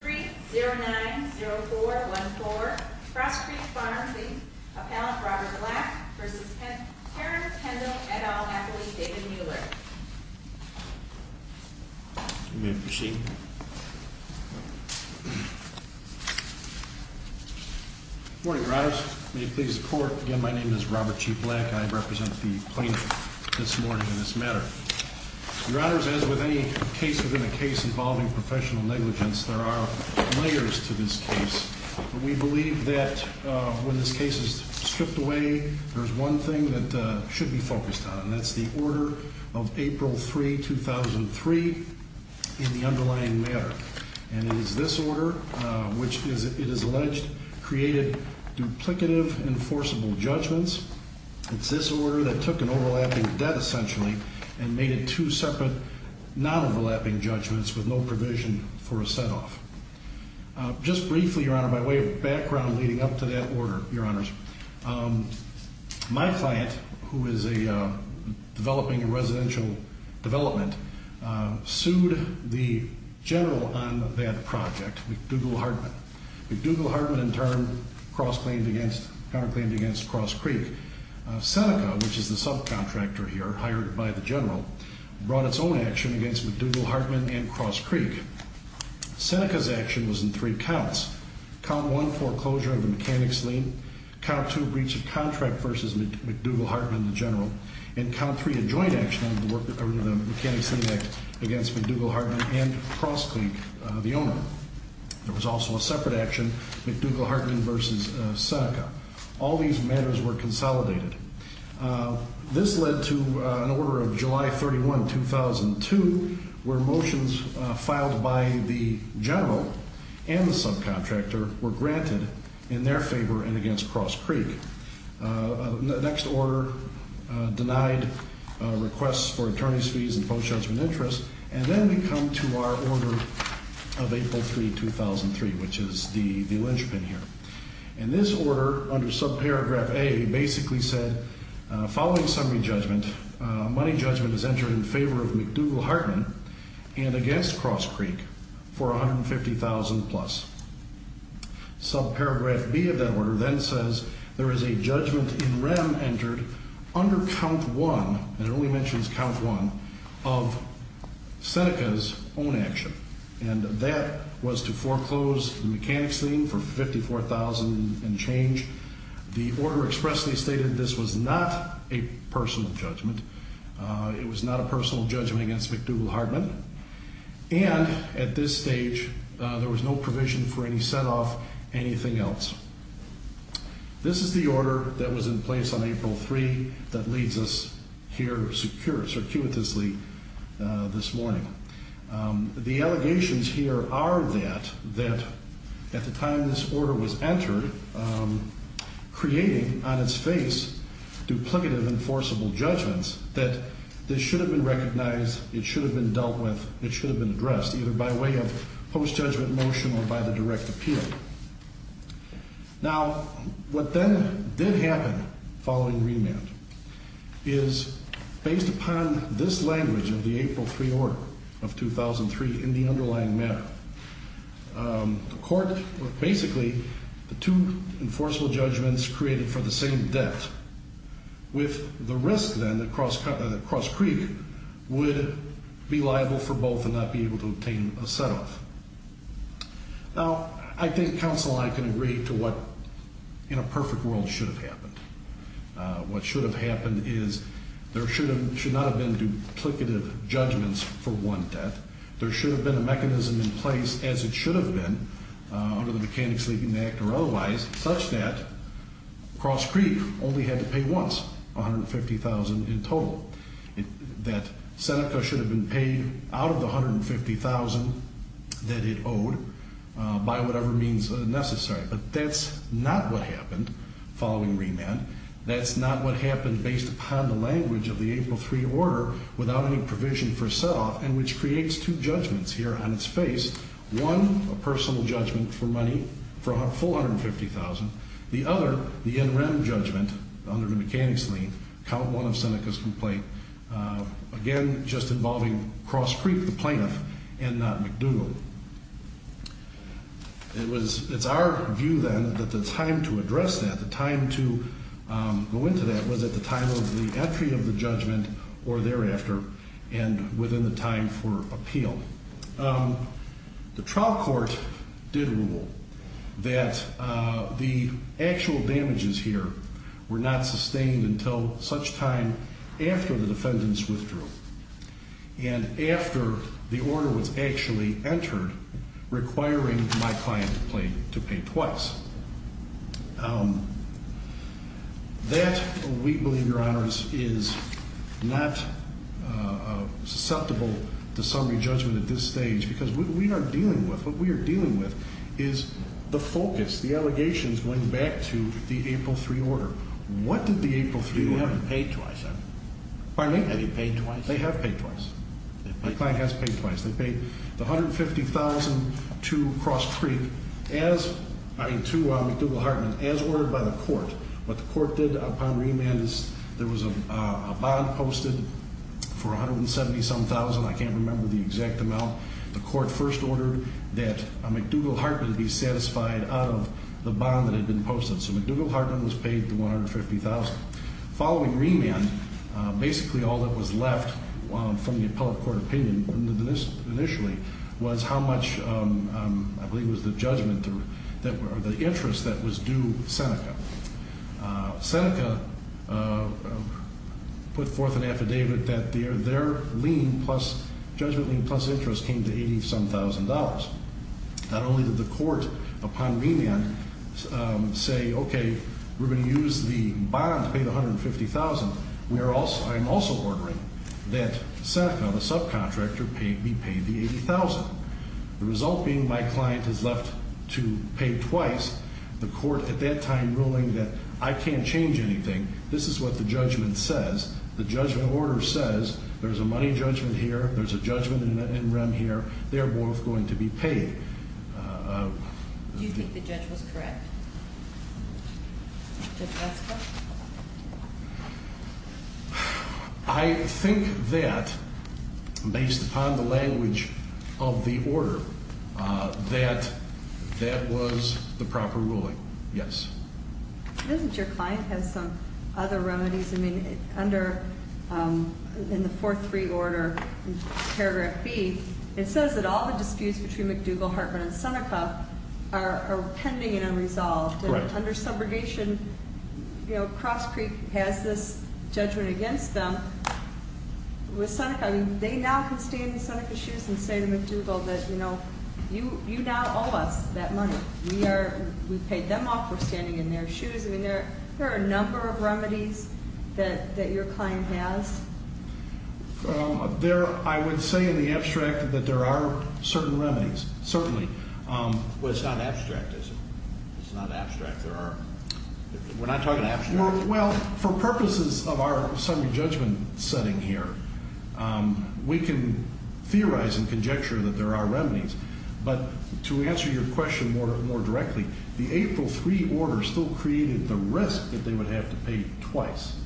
Street 090414 Frost Creek Farms, Inc. Appellant Robert Black v. Terrence Kendall et al. Athlete David Mueller. Good morning, Your Honors. May it please the Court, again, my name is Robert G. Black. I represent the plaintiff this morning in this matter. Your Honors, as with any case within a case involving professional negligence, there are layers to this case. We believe that when this case is stripped away, there's one thing that should be focused on, and that's the order of April 3, 2003 in the underlying matter. And it is this order, which it is alleged created duplicative enforceable judgments. It's this order that took an overlapping debt, essentially, and made it two separate non-overlapping judgments with no provision for a set-off. Just briefly, Your Honor, by way of background leading up to that order, Your Honors, my client, who is developing a residential development, sued the general on that project, McDougall Hartman. McDougall Hartman, in turn, counterclaimed against Cross Creek. Seneca, which is the subcontractor here, hired by the general, brought its own action against McDougall Hartman and Cross Creek. Seneca's action was in three counts. Count 1, foreclosure of the mechanics lien. Count 2, breach of contract versus McDougall Hartman, the general. And Count 3, a joint action under the Mechanics Lien Act against McDougall Hartman and Cross Creek, the owner. There was also a separate action, McDougall Hartman versus Seneca. All these matters were consolidated. This led to an order of July 31, 2002, where motions filed by the general and the subcontractor were granted in their favor and against Cross Creek. The next order denied requests for attorney's fees and post-judgment interest. And then we come to our order of April 3, 2003, which is the linchpin here. And this order, under subparagraph A, basically said, following summary judgment, money judgment is entered in favor of McDougall Hartman and against Cross Creek for $150,000 plus. Subparagraph B of that order then says there is a judgment in rem entered under Count 1, and it only mentions Count 1, of Seneca's own action. And that was to foreclose the mechanics lien for $54,000 and change. The order expressly stated this was not a personal judgment. It was not a personal judgment against McDougall Hartman. And at this stage, there was no provision for any set-off, anything else. This is the order that was in place on April 3 that leads us here circuitously this morning. The allegations here are that at the time this order was entered, creating on its face duplicative enforceable judgments, that this should have been recognized, it should have been dealt with, it should have been addressed, either by way of post-judgment motion or by the direct appeal. Now, what then did happen following remand is, based upon this language of the April 3 order of 2003 in the underlying matter, the court, basically, the two enforceable judgments created for the same debt, with the risk then that Cross Creek would be liable for both and not be able to obtain a set-off. Now, I think counsel and I can agree to what, in a perfect world, should have happened. What should have happened is there should not have been duplicative judgments for one debt. There should have been a mechanism in place, as it should have been under the Mechanics Lien Act or otherwise, such that Cross Creek only had to pay once $150,000 in total. That Seneca should have been paid out of the $150,000 that it owed by whatever means necessary. But that's not what happened following remand. That's not what happened based upon the language of the April 3 order without any provision for a set-off, and which creates two judgments here on its face. One, a personal judgment for money for a full $150,000. The other, the NREM judgment under the Mechanics Lien, Count 1 of Seneca's complaint, again, just involving Cross Creek, the plaintiff, and not McDougall. It's our view then that the time to address that, the time to go into that, was at the time of the entry of the judgment or thereafter and within the time for appeal. The trial court did rule that the actual damages here were not sustained until such time after the defendant's withdrawal and after the order was actually entered requiring my client to pay twice. That, we believe, Your Honors, is not susceptible to summary judgment at this stage, because what we are dealing with is the focus. The allegations went back to the April 3 order. What did the April 3 order- You haven't paid twice, have you? Pardon me? Have you paid twice? They have paid twice. My client has paid twice. They paid the $150,000 to McDougall-Hartman as ordered by the court. What the court did upon remand is there was a bond posted for $170,000, I can't remember the exact amount. The court first ordered that McDougall-Hartman be satisfied out of the bond that had been posted. So McDougall-Hartman was paid the $150,000. Following remand, basically all that was left from the appellate court opinion initially was how much, I believe it was the judgment or the interest that was due Seneca. Seneca put forth an affidavit that their lien plus judgment lien plus interest came to $80-some-thousand. Not only did the court upon remand say, okay, we're going to use the bond to pay the $150,000, I'm also ordering that Seneca, the subcontractor, be paid the $80,000. The result being my client is left to pay twice, the court at that time ruling that I can't change anything. This is what the judgment says. The judgment order says there's a money judgment here, there's a judgment in rem here, they're both going to be paid. Do you think the judge was correct? I think that, based upon the language of the order, that that was the proper ruling, yes. Doesn't your client have some other remedies? I mean, under, in the 4-3 order, paragraph B, it says that all the disputes between McDougall, Hartman, and Seneca are pending and unresolved. Correct. Under subrogation, Cross Creek has this judgment against them. With Seneca, they now can stand in Seneca's shoes and say to McDougall that, you know, you now owe us that money. We are, we paid them off, we're standing in their shoes. I mean, there are a number of remedies that your client has. There, I would say in the abstract that there are certain remedies, certainly. Well, it's not abstract, is it? It's not abstract. There are, we're not talking abstract. Well, for purposes of our summary judgment setting here, we can theorize and conjecture that there are remedies. But to answer your question more directly, the April 3 order still created the risk that they would have to pay twice.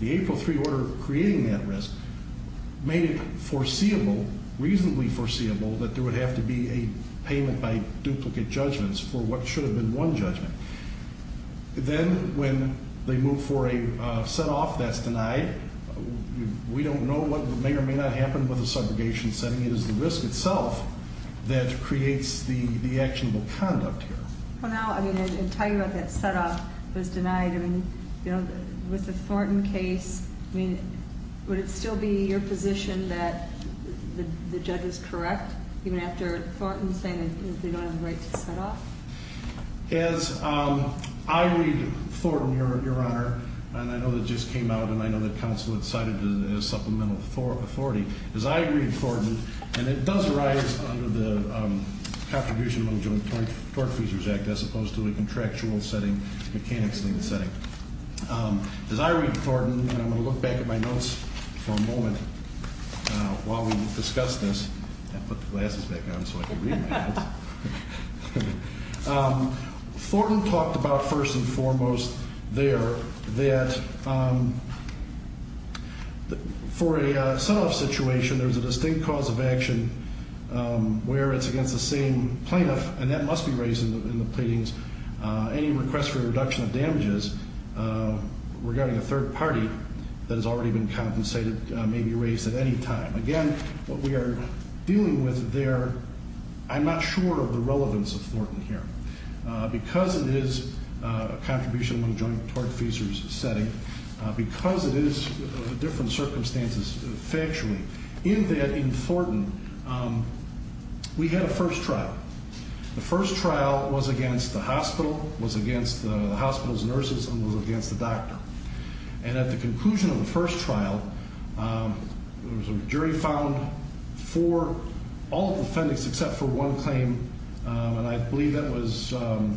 The April 3 order creating that risk made it foreseeable, reasonably foreseeable, that there would have to be a payment by duplicate judgments for what should have been one judgment. Then, when they move for a set-off that's denied, we don't know what may or may not happen with the subrogation setting. It is the risk itself that creates the actionable conduct here. Well, now, I mean, and tell you about that set-off that was denied. I mean, you know, with the Thornton case, I mean, would it still be your position that the judge is correct, even after Thornton saying that they don't have the right to set-off? As I read Thornton, Your Honor, and I know that just came out, and I know that counsel had cited the supplemental authority. As I read Thornton, and it does arise under the Contribution Mental Joint Tort Feasors Act, as opposed to a contractual setting, mechanics name setting. As I read Thornton, and I'm going to look back at my notes for a moment while we discuss this. I put the glasses back on so I can read my notes. Thornton talked about, first and foremost there, that for a set-off situation, there's a distinct cause of action where it's against the same plaintiff, and that must be raised in the pleadings, any request for a reduction of damages regarding a third party that has already been compensated may be raised at any time. Again, what we are dealing with there, I'm not sure of the relevance of Thornton here. Because it is a Contribution Mental Joint Tort Feasors setting, because it is different circumstances factually, in that, in Thornton, we had a first trial. The first trial was against the hospital, was against the hospital's nurses, and was against the doctor. And at the conclusion of the first trial, there was a jury found for all of the defendants except for one claim, and I believe that was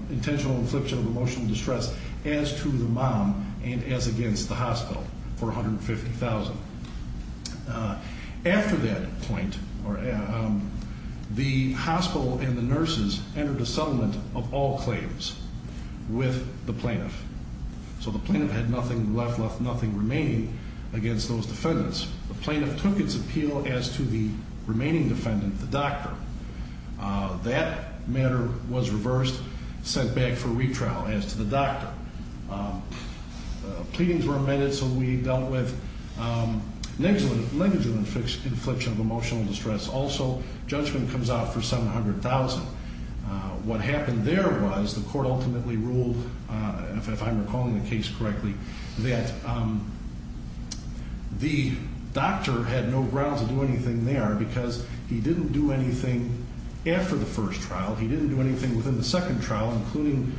intentional infliction of emotional distress, as to the mom, and as against the hospital for $150,000. After that point, the hospital and the nurses entered a settlement of all claims with the plaintiff. So the plaintiff had nothing left, left nothing remaining against those defendants. The plaintiff took its appeal as to the remaining defendant, the doctor. That matter was reversed, sent back for retrial as to the doctor. Pleadings were amended, so we dealt with negligent infliction of emotional distress. What happened there was the court ultimately ruled, if I'm recalling the case correctly, that the doctor had no grounds to do anything there because he didn't do anything after the first trial, he didn't do anything within the second trial, including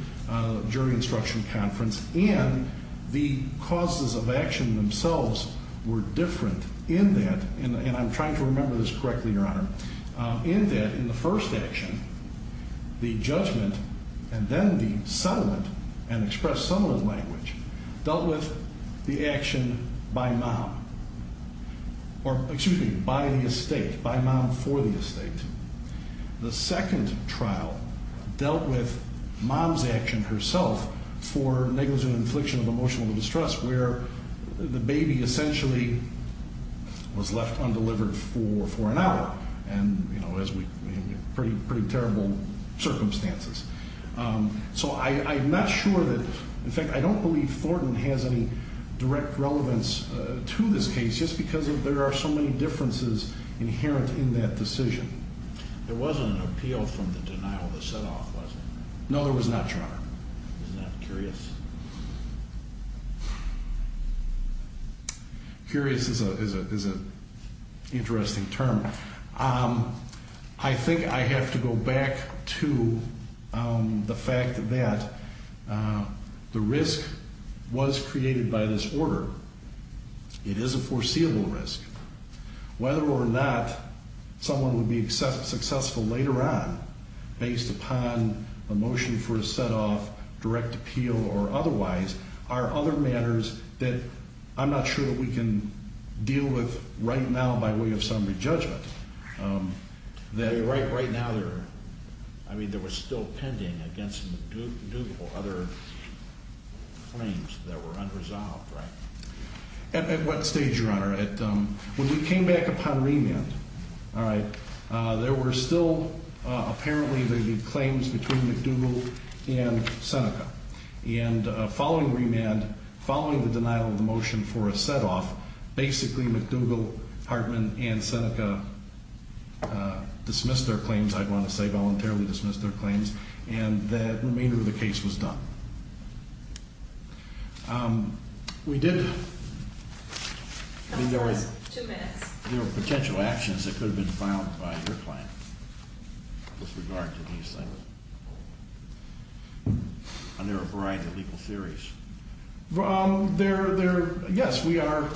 jury instruction conference, and the causes of action themselves were different in that, and I'm trying to remember this correctly, Your Honor, in that in the first action, the judgment and then the settlement, and expressed settlement language, dealt with the action by mom, or excuse me, by the estate, by mom for the estate. The second trial dealt with mom's action herself for negligent infliction of emotional distress where the baby essentially was left undelivered for an hour in pretty terrible circumstances. So I'm not sure that, in fact, I don't believe Thornton has any direct relevance to this case just because there are so many differences inherent in that decision. There wasn't an appeal from the denial of the set-off, was there? No, there was not, Your Honor. Is that curious? Curious is an interesting term. I think I have to go back to the fact that the risk was created by this order. It is a foreseeable risk. Whether or not someone would be successful later on based upon a motion for a set-off, direct appeal, or otherwise, are other matters that I'm not sure that we can deal with right now by way of some re-judgment. Right now, I mean, there was still pending against McDougal other claims that were unresolved, right? At what stage, Your Honor? When we came back upon remand, there were still apparently claims between McDougal and Seneca. And following remand, following the denial of the motion for a set-off, basically McDougal, Hartman, and Seneca dismissed their claims, I'd want to say voluntarily dismissed their claims, and the remainder of the case was done. We did, I mean, there were potential actions that could have been filed by your client with regard to these things. And there are a variety of legal theories. Yes, we are,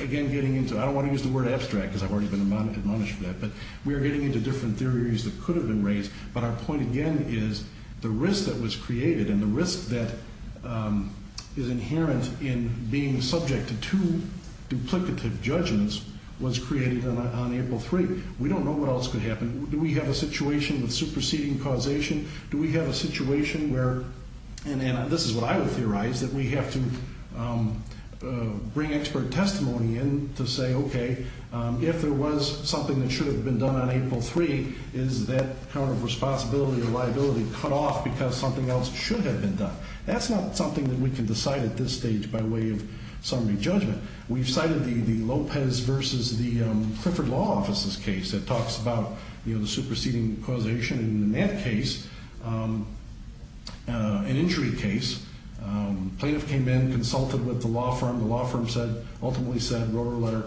again, getting into, I don't want to use the word abstract because I've already been admonished for that, but we are getting into different theories that could have been raised. But our point, again, is the risk that was created and the risk that is inherent in being subject to two duplicative judgments was created on April 3. We don't know what else could happen. Do we have a situation with superseding causation? Do we have a situation where, and this is what I would theorize, that we have to bring expert testimony in to say, okay, if there was something that should have been done on April 3, is that kind of responsibility or liability cut off because something else should have been done? That's not something that we can decide at this stage by way of summary judgment. We've cited the Lopez versus the Clifford Law Offices case that talks about the superseding causation. In that case, an injury case, plaintiff came in, consulted with the law firm. The law firm ultimately said, wrote her a letter,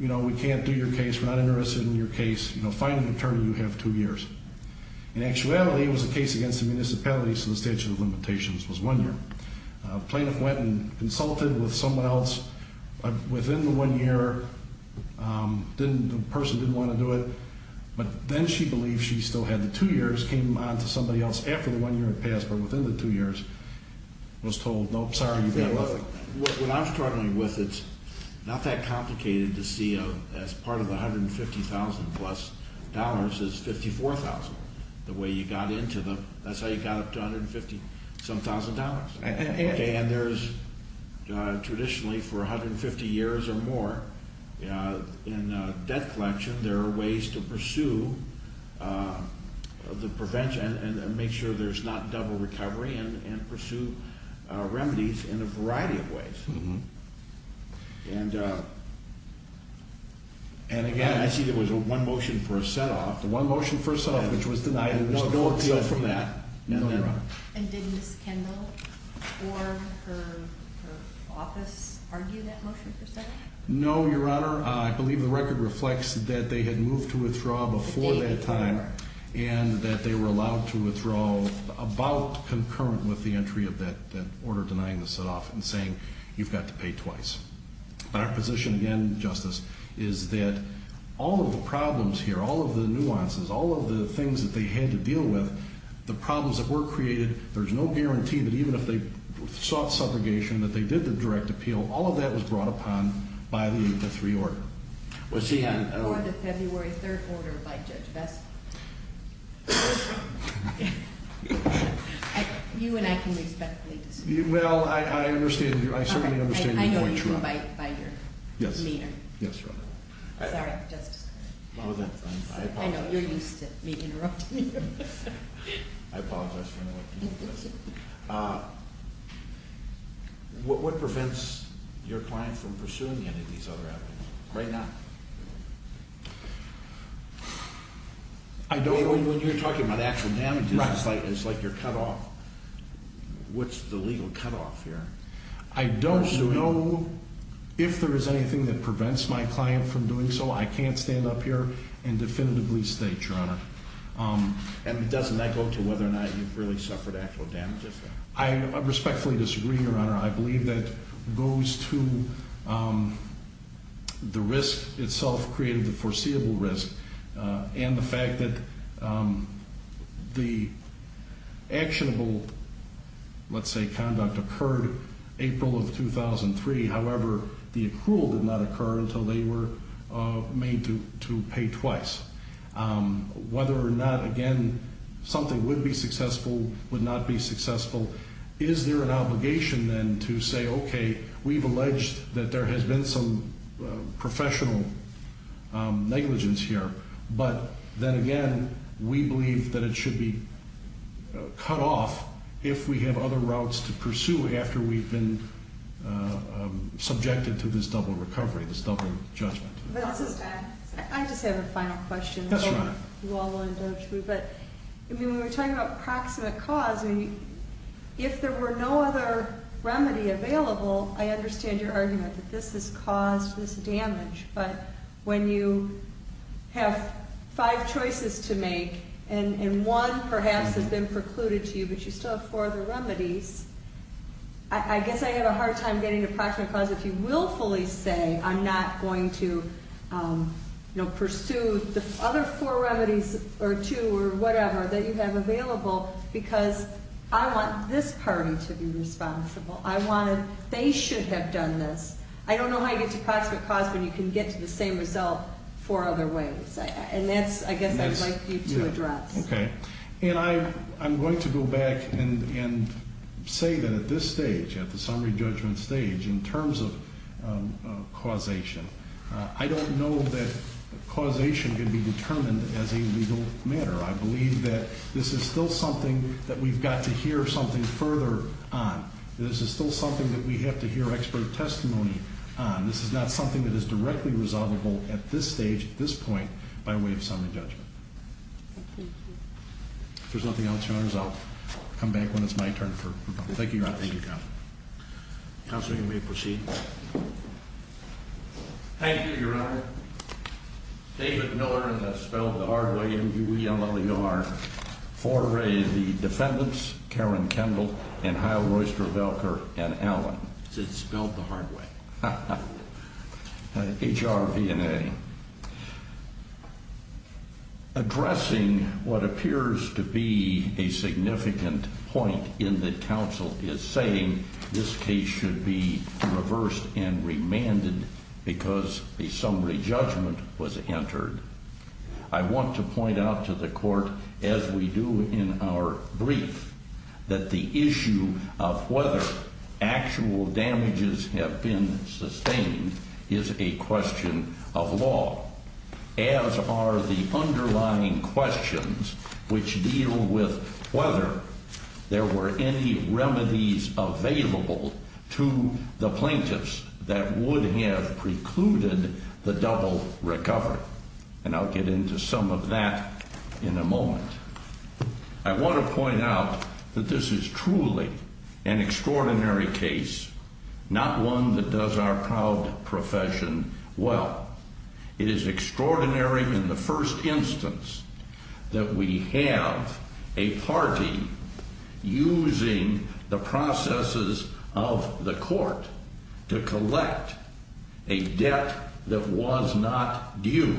you know, we can't do your case. We're not interested in your case. Find an attorney. You have two years. In actuality, it was a case against the municipality, so the statute of limitations was one year. Plaintiff went and consulted with someone else. Within the one year, the person didn't want to do it, but then she believed she still had the two years, came on to somebody else after the one year had passed, but within the two years was told, nope, sorry, you've got nothing. So what I'm struggling with, it's not that complicated to see as part of the $150,000 plus is $54,000. The way you got into them, that's how you got up to $150,000. And there's traditionally for 150 years or more in debt collection, there are ways to pursue the prevention and make sure there's not double recovery and pursue remedies in a variety of ways. And again, I see there was a one motion for a set-off. The one motion for a set-off, which was denied. There was no appeal from that. No, Your Honor. And did Ms. Kendall or her office argue that motion for a set-off? No, Your Honor. Your Honor, I believe the record reflects that they had moved to withdraw before that time and that they were allowed to withdraw about concurrent with the entry of that order denying the set-off and saying you've got to pay twice. But our position again, Justice, is that all of the problems here, all of the nuances, all of the things that they had to deal with, the problems that were created, there's no guarantee that even if they sought subrogation, that they did the direct appeal, all of that was brought upon by the 3rd Order. Or the February 3rd Order by Judge Vestal. You and I can respectfully disagree. Well, I certainly understand your point, Your Honor. I know you can by your demeanor. Yes, Your Honor. Sorry, Justice. I apologize for interrupting you. What prevents your client from pursuing any of these other avenues right now? I don't know. When you're talking about actual damages, it's like you're cut off. What's the legal cutoff here? I don't know if there is anything that prevents my client from doing so. And doesn't that go to whether or not you've really suffered actual damages? I respectfully disagree, Your Honor. I believe that goes to the risk itself creating the foreseeable risk and the fact that the actionable, let's say, conduct occurred April of 2003. However, the accrual did not occur until they were made to pay twice. Whether or not, again, something would be successful, would not be successful, is there an obligation, then, to say, okay, we've alleged that there has been some professional negligence here. But then again, we believe that it should be cut off if we have other routes to pursue after we've been subjected to this double recovery, this double judgment. I just have a final question. Yes, Your Honor. You all will indulge me. But when we're talking about proximate cause, if there were no other remedy available, I understand your argument that this has caused this damage. But when you have five choices to make and one perhaps has been precluded to you but you still have four other remedies, I guess I have a hard time getting to proximate cause if you willfully say I'm not going to, you know, pursue the other four remedies or two or whatever that you have available because I want this party to be responsible. I want to they should have done this. I don't know how you get to proximate cause when you can get to the same result four other ways. And that's, I guess, I'd like you to address. Okay. And I'm going to go back and say that at this stage, at the summary judgment stage, in terms of causation, I don't know that causation can be determined as a legal matter. I believe that this is still something that we've got to hear something further on. This is still something that we have to hear expert testimony on. This is not something that is directly resolvable at this stage, at this point, by way of summary judgment. If there's nothing else, Your Honors, I'll come back when it's my turn. Thank you, Your Honor. Thank you, counsel. Counsel, you may proceed. Thank you, Your Honor. David Miller, and that's spelled the hard way, M-U-E-L-L-E-R, foray the defendants, Karen Kendall and Hial Royster Velker and Allen. It's spelled the hard way. H-R-V-N-A. Addressing what appears to be a significant point in that counsel is saying, this case should be reversed and remanded because a summary judgment was entered. I want to point out to the court, as we do in our brief, that the issue of whether actual damages have been sustained is a question of law. As are the underlying questions, which deal with whether there were any remedies available to the plaintiffs that would have precluded the double recovery. And I'll get into some of that in a moment. I want to point out that this is truly an extraordinary case, not one that does our proud profession well. It is extraordinary in the first instance that we have a party using the processes of the court to collect a debt that was not due.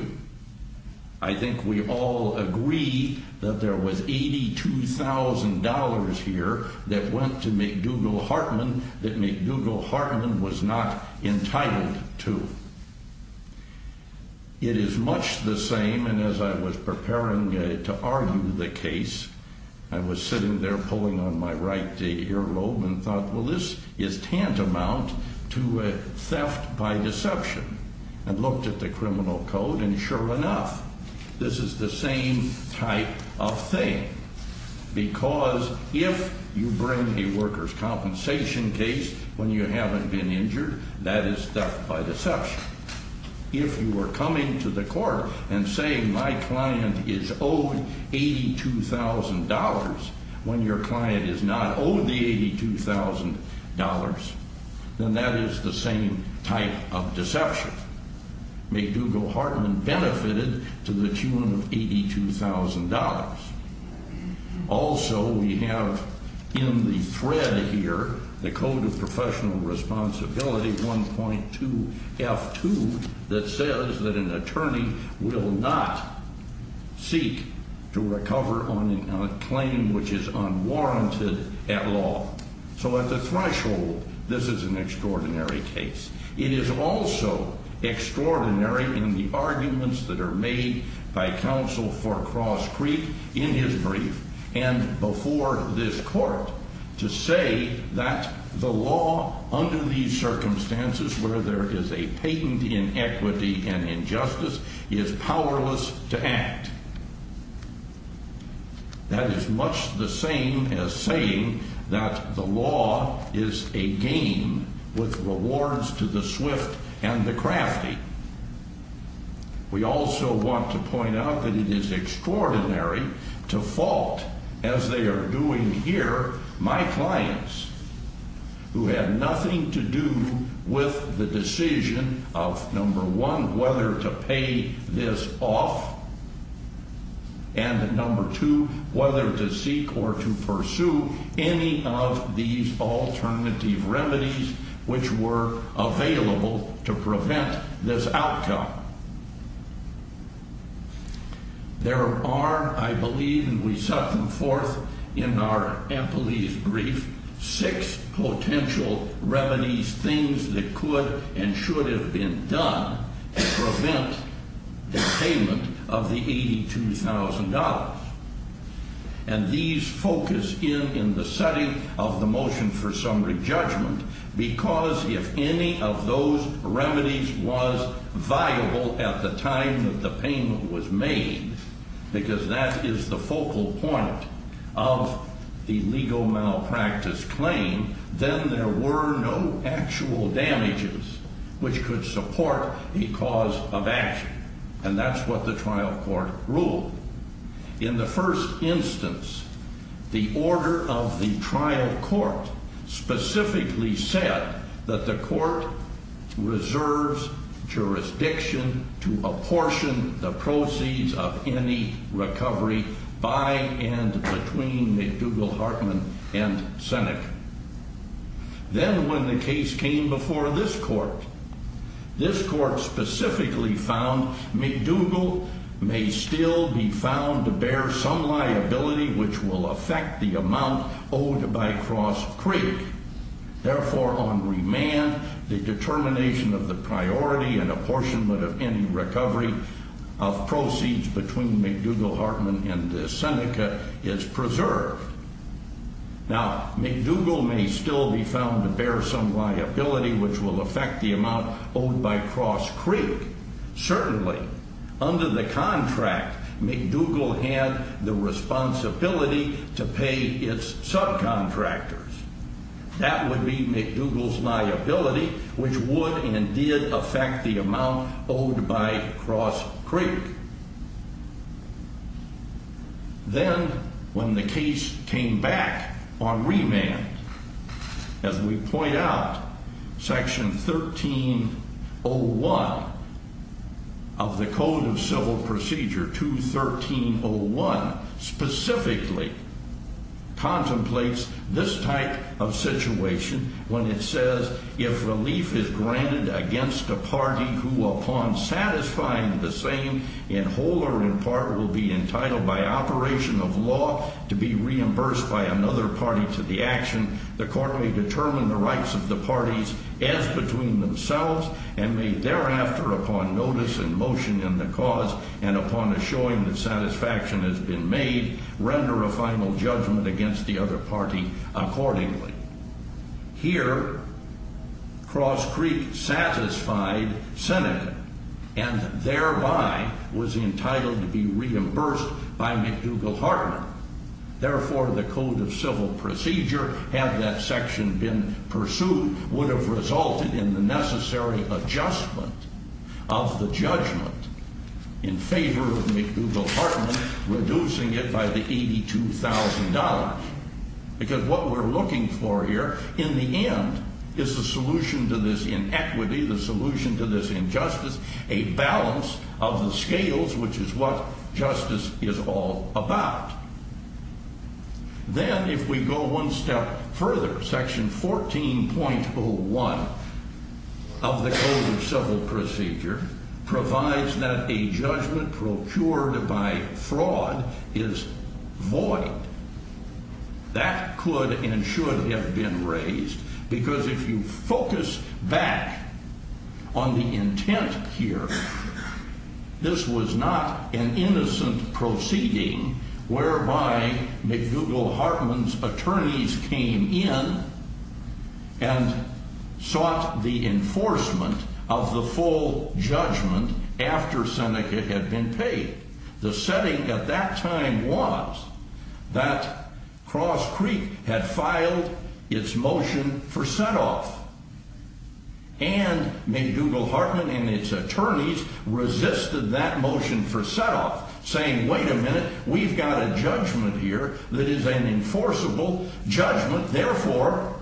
I think we all agree that there was $82,000 here that went to McDougall Hartman that McDougall Hartman was not entitled to. It is much the same, and as I was preparing to argue the case, I was sitting there pulling on my right earlobe and thought, well, this is tantamount to theft by deception. I looked at the criminal code, and sure enough, this is the same type of thing. Because if you bring a workers' compensation case when you haven't been injured, that is theft by deception. If you are coming to the court and saying my client is owed $82,000 when your client is not owed the $82,000, then that is the same type of deception. McDougall Hartman benefited to the tune of $82,000. Also, we have in the thread here the Code of Professional Responsibility 1.2F2 that says that an attorney will not seek to recover on a claim which is unwarranted at law. So at the threshold, this is an extraordinary case. It is also extraordinary in the arguments that are made by counsel for Cross Creek in his brief and before this court to say that the law under these circumstances where there is a patent inequity and injustice is powerless to act. That is much the same as saying that the law is a game with rewards to the swift and the crafty. We also want to point out that it is extraordinary to fault, as they are doing here, my clients who had nothing to do with the decision of, number one, whether to pay this off and, number two, whether to seek or to pursue any of these alternative remedies which were available to prevent this outcome. There are, I believe, and we set them forth in our employees' brief, six potential remedies, things that could and should have been done to prevent the payment of the $82,000. And these focus in in the setting of the motion for summary judgment because if any of those remedies was viable at the time that the payment was made, because that is the focal point of the legal malpractice claim, then there were no actual damages which could support a cause of action. And that's what the trial court ruled. In the first instance, the order of the trial court specifically said that the court reserves jurisdiction to apportion the proceeds of any recovery by and between McDougall Hartman and Senec. Then when the case came before this court, this court specifically found McDougall may still be found to bear some liability which will affect the amount owed by Cross Creek. Therefore, on remand, the determination of the priority and apportionment of any recovery of proceeds between McDougall Hartman and Seneca is preserved. Now, McDougall may still be found to bear some liability which will affect the amount owed by Cross Creek. Certainly, under the contract, McDougall had the responsibility to pay its subcontractors. That would be McDougall's liability which would and did affect the amount owed by Cross Creek. Then, when the case came back on remand, as we point out, section 1301 of the Code of Civil Procedure, 21301, specifically contemplates this type of situation when it says if relief is granted against a party who, upon satisfying the same, in whole or in part, will be entitled by operation of law to be reimbursed by another party to the action, the court may determine the rights of the parties as between themselves and may thereafter, upon notice and motion in the cause and upon assuring that satisfaction has been made, render a final judgment against the other party accordingly. Here, Cross Creek satisfied Seneca and thereby was entitled to be reimbursed by McDougall-Hartman. Therefore, the Code of Civil Procedure, had that section been pursued, would have resulted in the necessary adjustment of the judgment in favor of McDougall-Hartman, reducing it by the $82,000. Because what we're looking for here, in the end, is the solution to this inequity, the solution to this injustice, a balance of the scales, which is what justice is all about. Then, if we go one step further, section 14.01 of the Code of Civil Procedure provides that a judgment procured by fraud is void. That could and should have been raised, because if you focus back on the intent here, this was not an innocent proceeding whereby McDougall-Hartman's attorneys came in and sought the enforcement of the full judgment after Seneca had been paid. The setting at that time was that Cross Creek had filed its motion for set-off, and McDougall-Hartman and its attorneys resisted that motion for set-off, saying, wait a minute, we've got a judgment here that is an enforceable judgment, therefore,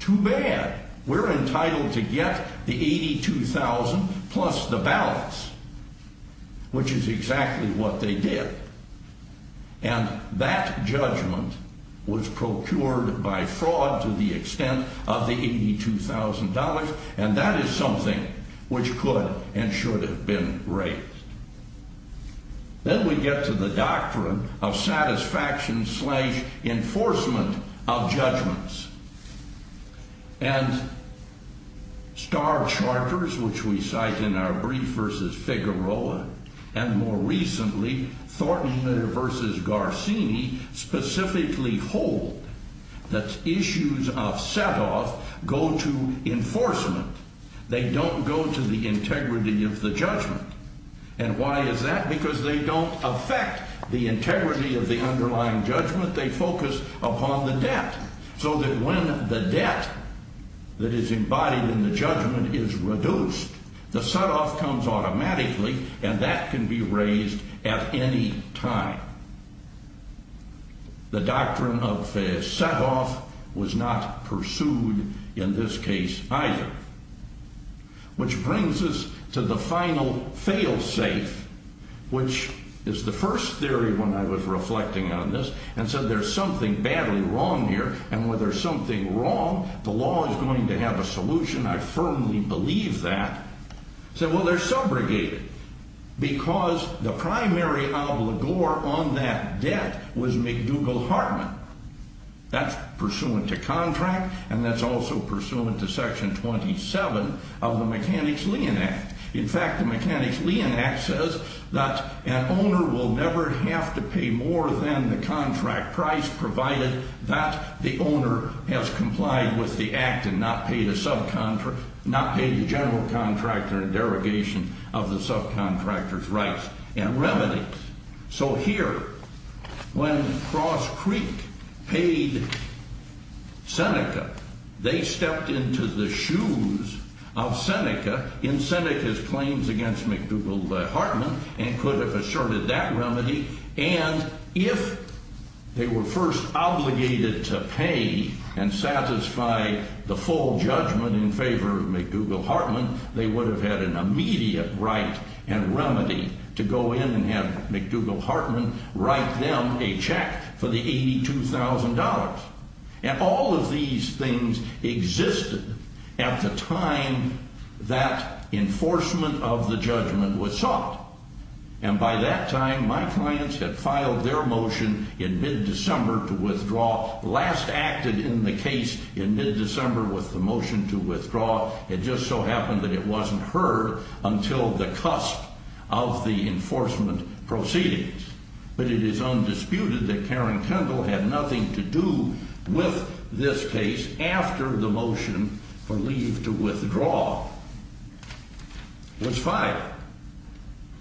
too bad. We're entitled to get the $82,000 plus the balance, which is exactly what they did. And that judgment was procured by fraud to the extent of the $82,000, and that is something which could and should have been raised. Then we get to the doctrine of satisfaction slash enforcement of judgments. And Starr Charters, which we cite in our brief versus Figueroa, and more recently Thornton-Meader versus Garcini, specifically hold that issues of set-off go to enforcement. They don't go to the integrity of the judgment. And why is that? Because they don't affect the integrity of the underlying judgment. They focus upon the debt, so that when the debt that is embodied in the judgment is reduced, the set-off comes automatically, and that can be raised at any time. The doctrine of set-off was not pursued in this case either. Which brings us to the final fail-safe, which is the first theory when I was reflecting on this, and said there's something badly wrong here, and when there's something wrong, the law is going to have a solution. I firmly believe that. I said, well, they're subrogated, because the primary obligor on that debt was McDougall-Hartman. That's pursuant to contract, and that's also pursuant to Section 27 of the Mechanics-Leon Act. In fact, the Mechanics-Leon Act says that an owner will never have to pay more than the contract price, provided that the owner has complied with the act and not paid the general contractor in derogation of the subcontractor's rights and remedies. So here, when Cross Creek paid Seneca, they stepped into the shoes of Seneca in Seneca's claims against McDougall-Hartman and could have assured that remedy, and if they were first obligated to pay and satisfy the full judgment in favor of McDougall-Hartman, they would have had an immediate right and remedy to go in and have McDougall-Hartman write them a check for the $82,000. And all of these things existed at the time that enforcement of the judgment was sought. And by that time, my clients had filed their motion in mid-December to withdraw, last acted in the case in mid-December with the motion to withdraw. It just so happened that it wasn't heard until the cusp of the enforcement proceedings. But it is undisputed that Karen Kendall had nothing to do with this case after the motion for leave to withdraw was filed.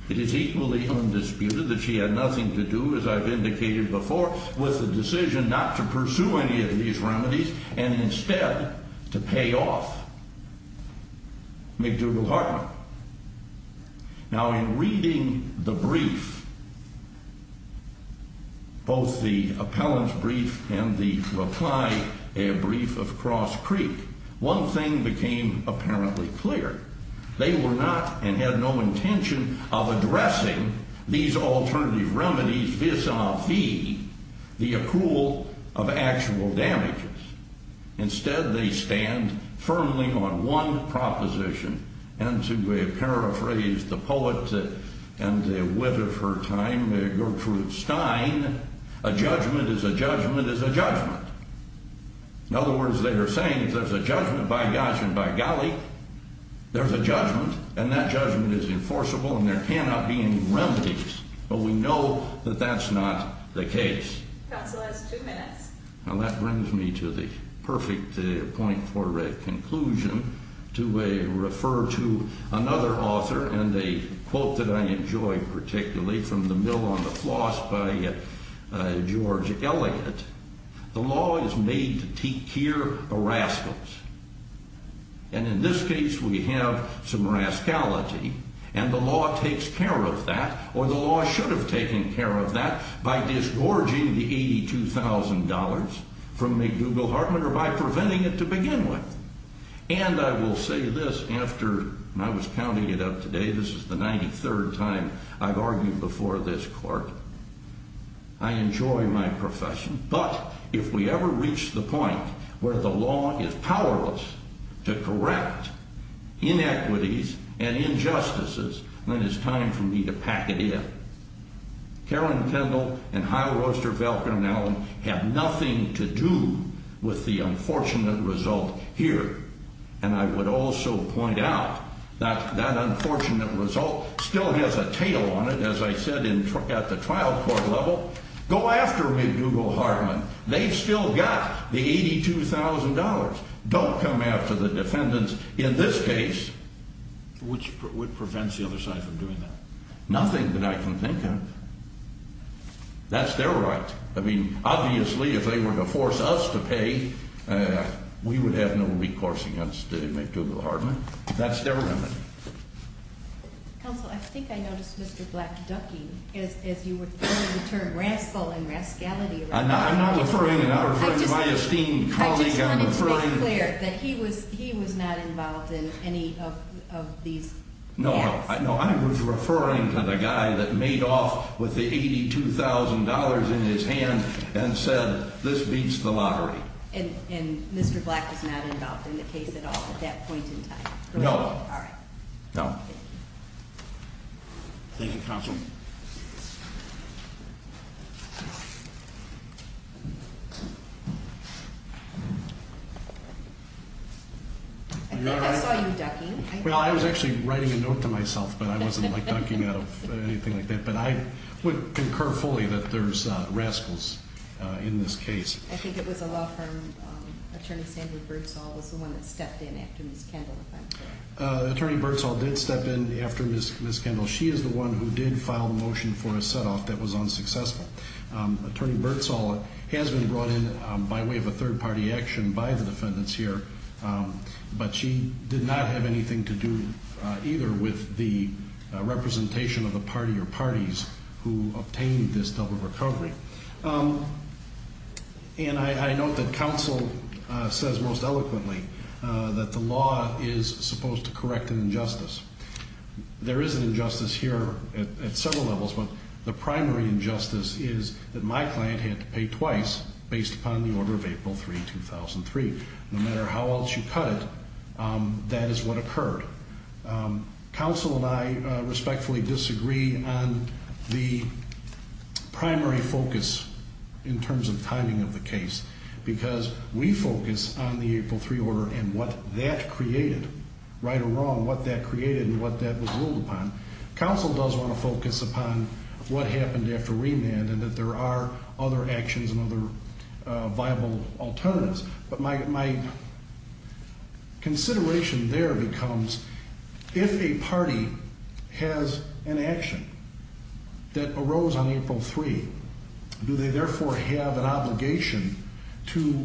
It is equally undisputed that she had nothing to do, as I've indicated before, with the decision not to pursue any of these remedies and instead to pay off McDougall-Hartman. Now, in reading the brief, both the appellant's brief and the reply brief of Cross Creek, one thing became apparently clear. They were not and had no intention of addressing these alternative remedies vis-a-vis the accrual of actual damages. Instead, they stand firmly on one proposition. And to paraphrase the poet and the wit of her time, Gertrude Stein, a judgment is a judgment is a judgment. In other words, they are saying if there's a judgment by gosh and by golly, there's a judgment and that judgment is enforceable and there cannot be any remedies. But we know that that's not the case. Counsel has two minutes. Well, that brings me to the perfect point for a conclusion to refer to another author and a quote that I enjoy particularly from The Mill on the Floss by George Eliot. The law is made to take care of rascals. And in this case, we have some rascality and the law takes care of that or the law should have taken care of that by disgorging the $82,000 from McDougall Hartman or by preventing it to begin with. And I will say this after I was counting it up today. This is the 93rd time I've argued before this court. I enjoy my profession. But if we ever reach the point where the law is powerless to correct inequities and injustices, then it's time for me to pack it in. Karen Kendall and Hiawoster, Velker, and Allen have nothing to do with the unfortunate result here. And I would also point out that that unfortunate result still has a tail on it, as I said at the trial court level. Go after McDougall Hartman. They've still got the $82,000. Don't come after the defendants in this case. Which prevents the other side from doing that? Nothing that I can think of. That's their right. I mean, obviously, if they were to force us to pay, we would have no recourse against McDougall Hartman. That's their remedy. Counsel, I think I noticed Mr. Black Ducky, as you were throwing the term rascal and rascality around. I'm not referring to him. I'm referring to my esteemed colleague. He was not involved in any of these acts. No, I was referring to the guy that made off with the $82,000 in his hand and said, this beats the lottery. And Mr. Black was not involved in the case at all at that point in time? No. No. Thank you, Counsel. I think I saw you ducking. Well, I was actually writing a note to myself, but I wasn't like ducking out of anything like that. But I would concur fully that there's rascals in this case. I think it was a law firm, Attorney Sandra Bertzall was the one that stepped in after Ms. Kendall. Attorney Bertzall did step in after Ms. Kendall. She is the one who did file the motion for a set off that was unsuccessful. Attorney Bertzall has been brought in by way of a third-party action by the defendants here. But she did not have anything to do either with the representation of the party or parties who obtained this double recovery. And I note that Counsel says most eloquently that the law is supposed to correct an injustice. There is an injustice here at several levels. But the primary injustice is that my client had to pay twice based upon the order of April 3, 2003. No matter how else you cut it, that is what occurred. Counsel and I respectfully disagree on the primary focus in terms of timing of the case. Because we focus on the April 3 order and what that created, right or wrong, what that created and what that was ruled upon. Counsel does want to focus upon what happened after remand and that there are other actions and other viable alternatives. But my consideration there becomes if a party has an action that arose on April 3, do they therefore have an obligation to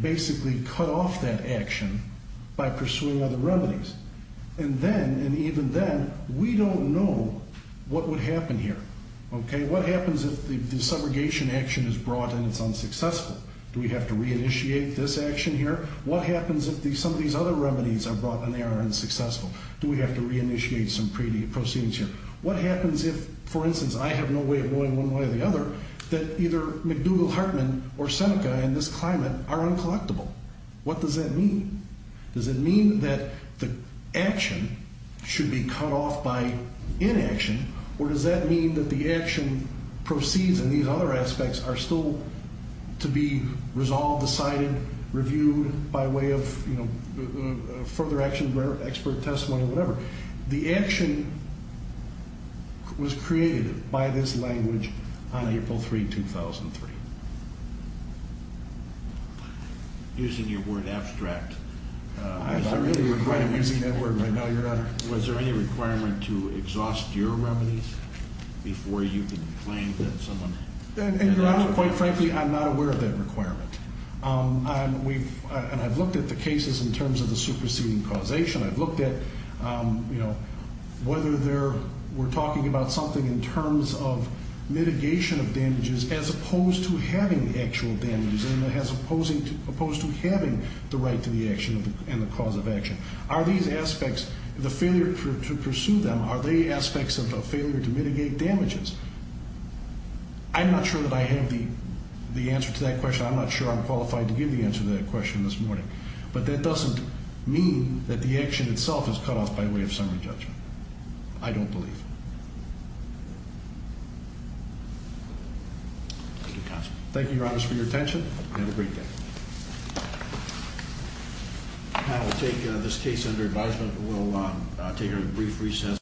basically cut off that action by pursuing other remedies? And then, and even then, we don't know what would happen here. Okay, what happens if the subrogation action is brought and it's unsuccessful? Do we have to re-initiate this action here? What happens if some of these other remedies are brought and they are unsuccessful? Do we have to re-initiate some proceedings here? What happens if, for instance, I have no way of knowing one way or the other that either McDougall Hartman or Seneca in this climate are uncollectible? What does that mean? Does it mean that the action should be cut off by inaction or does that mean that the action proceeds and these other aspects are still to be resolved, decided, reviewed by way of, you know, further action, expert testimony or whatever? The action was created by this language on April 3, 2003. Using your word abstract. I really am using that word right now, Your Honor. Was there any requirement to exhaust your remedies before you could claim that someone? Your Honor, quite frankly, I'm not aware of that requirement. And I've looked at the cases in terms of the superseding causation. I've looked at, you know, whether there were talking about something in terms of mitigation of damages as opposed to having actual damages and as opposed to having the right to the action and the cause of action. Are these aspects, the failure to pursue them, are they aspects of failure to mitigate damages? I'm not sure that I have the answer to that question. I'm not sure I'm qualified to give the answer to that question this morning. But that doesn't mean that the action itself is cut off by way of summary judgment. I don't believe. Thank you, Your Honor, for your attention. Have a great day. I will take this case under advisement. We'll take a brief recess.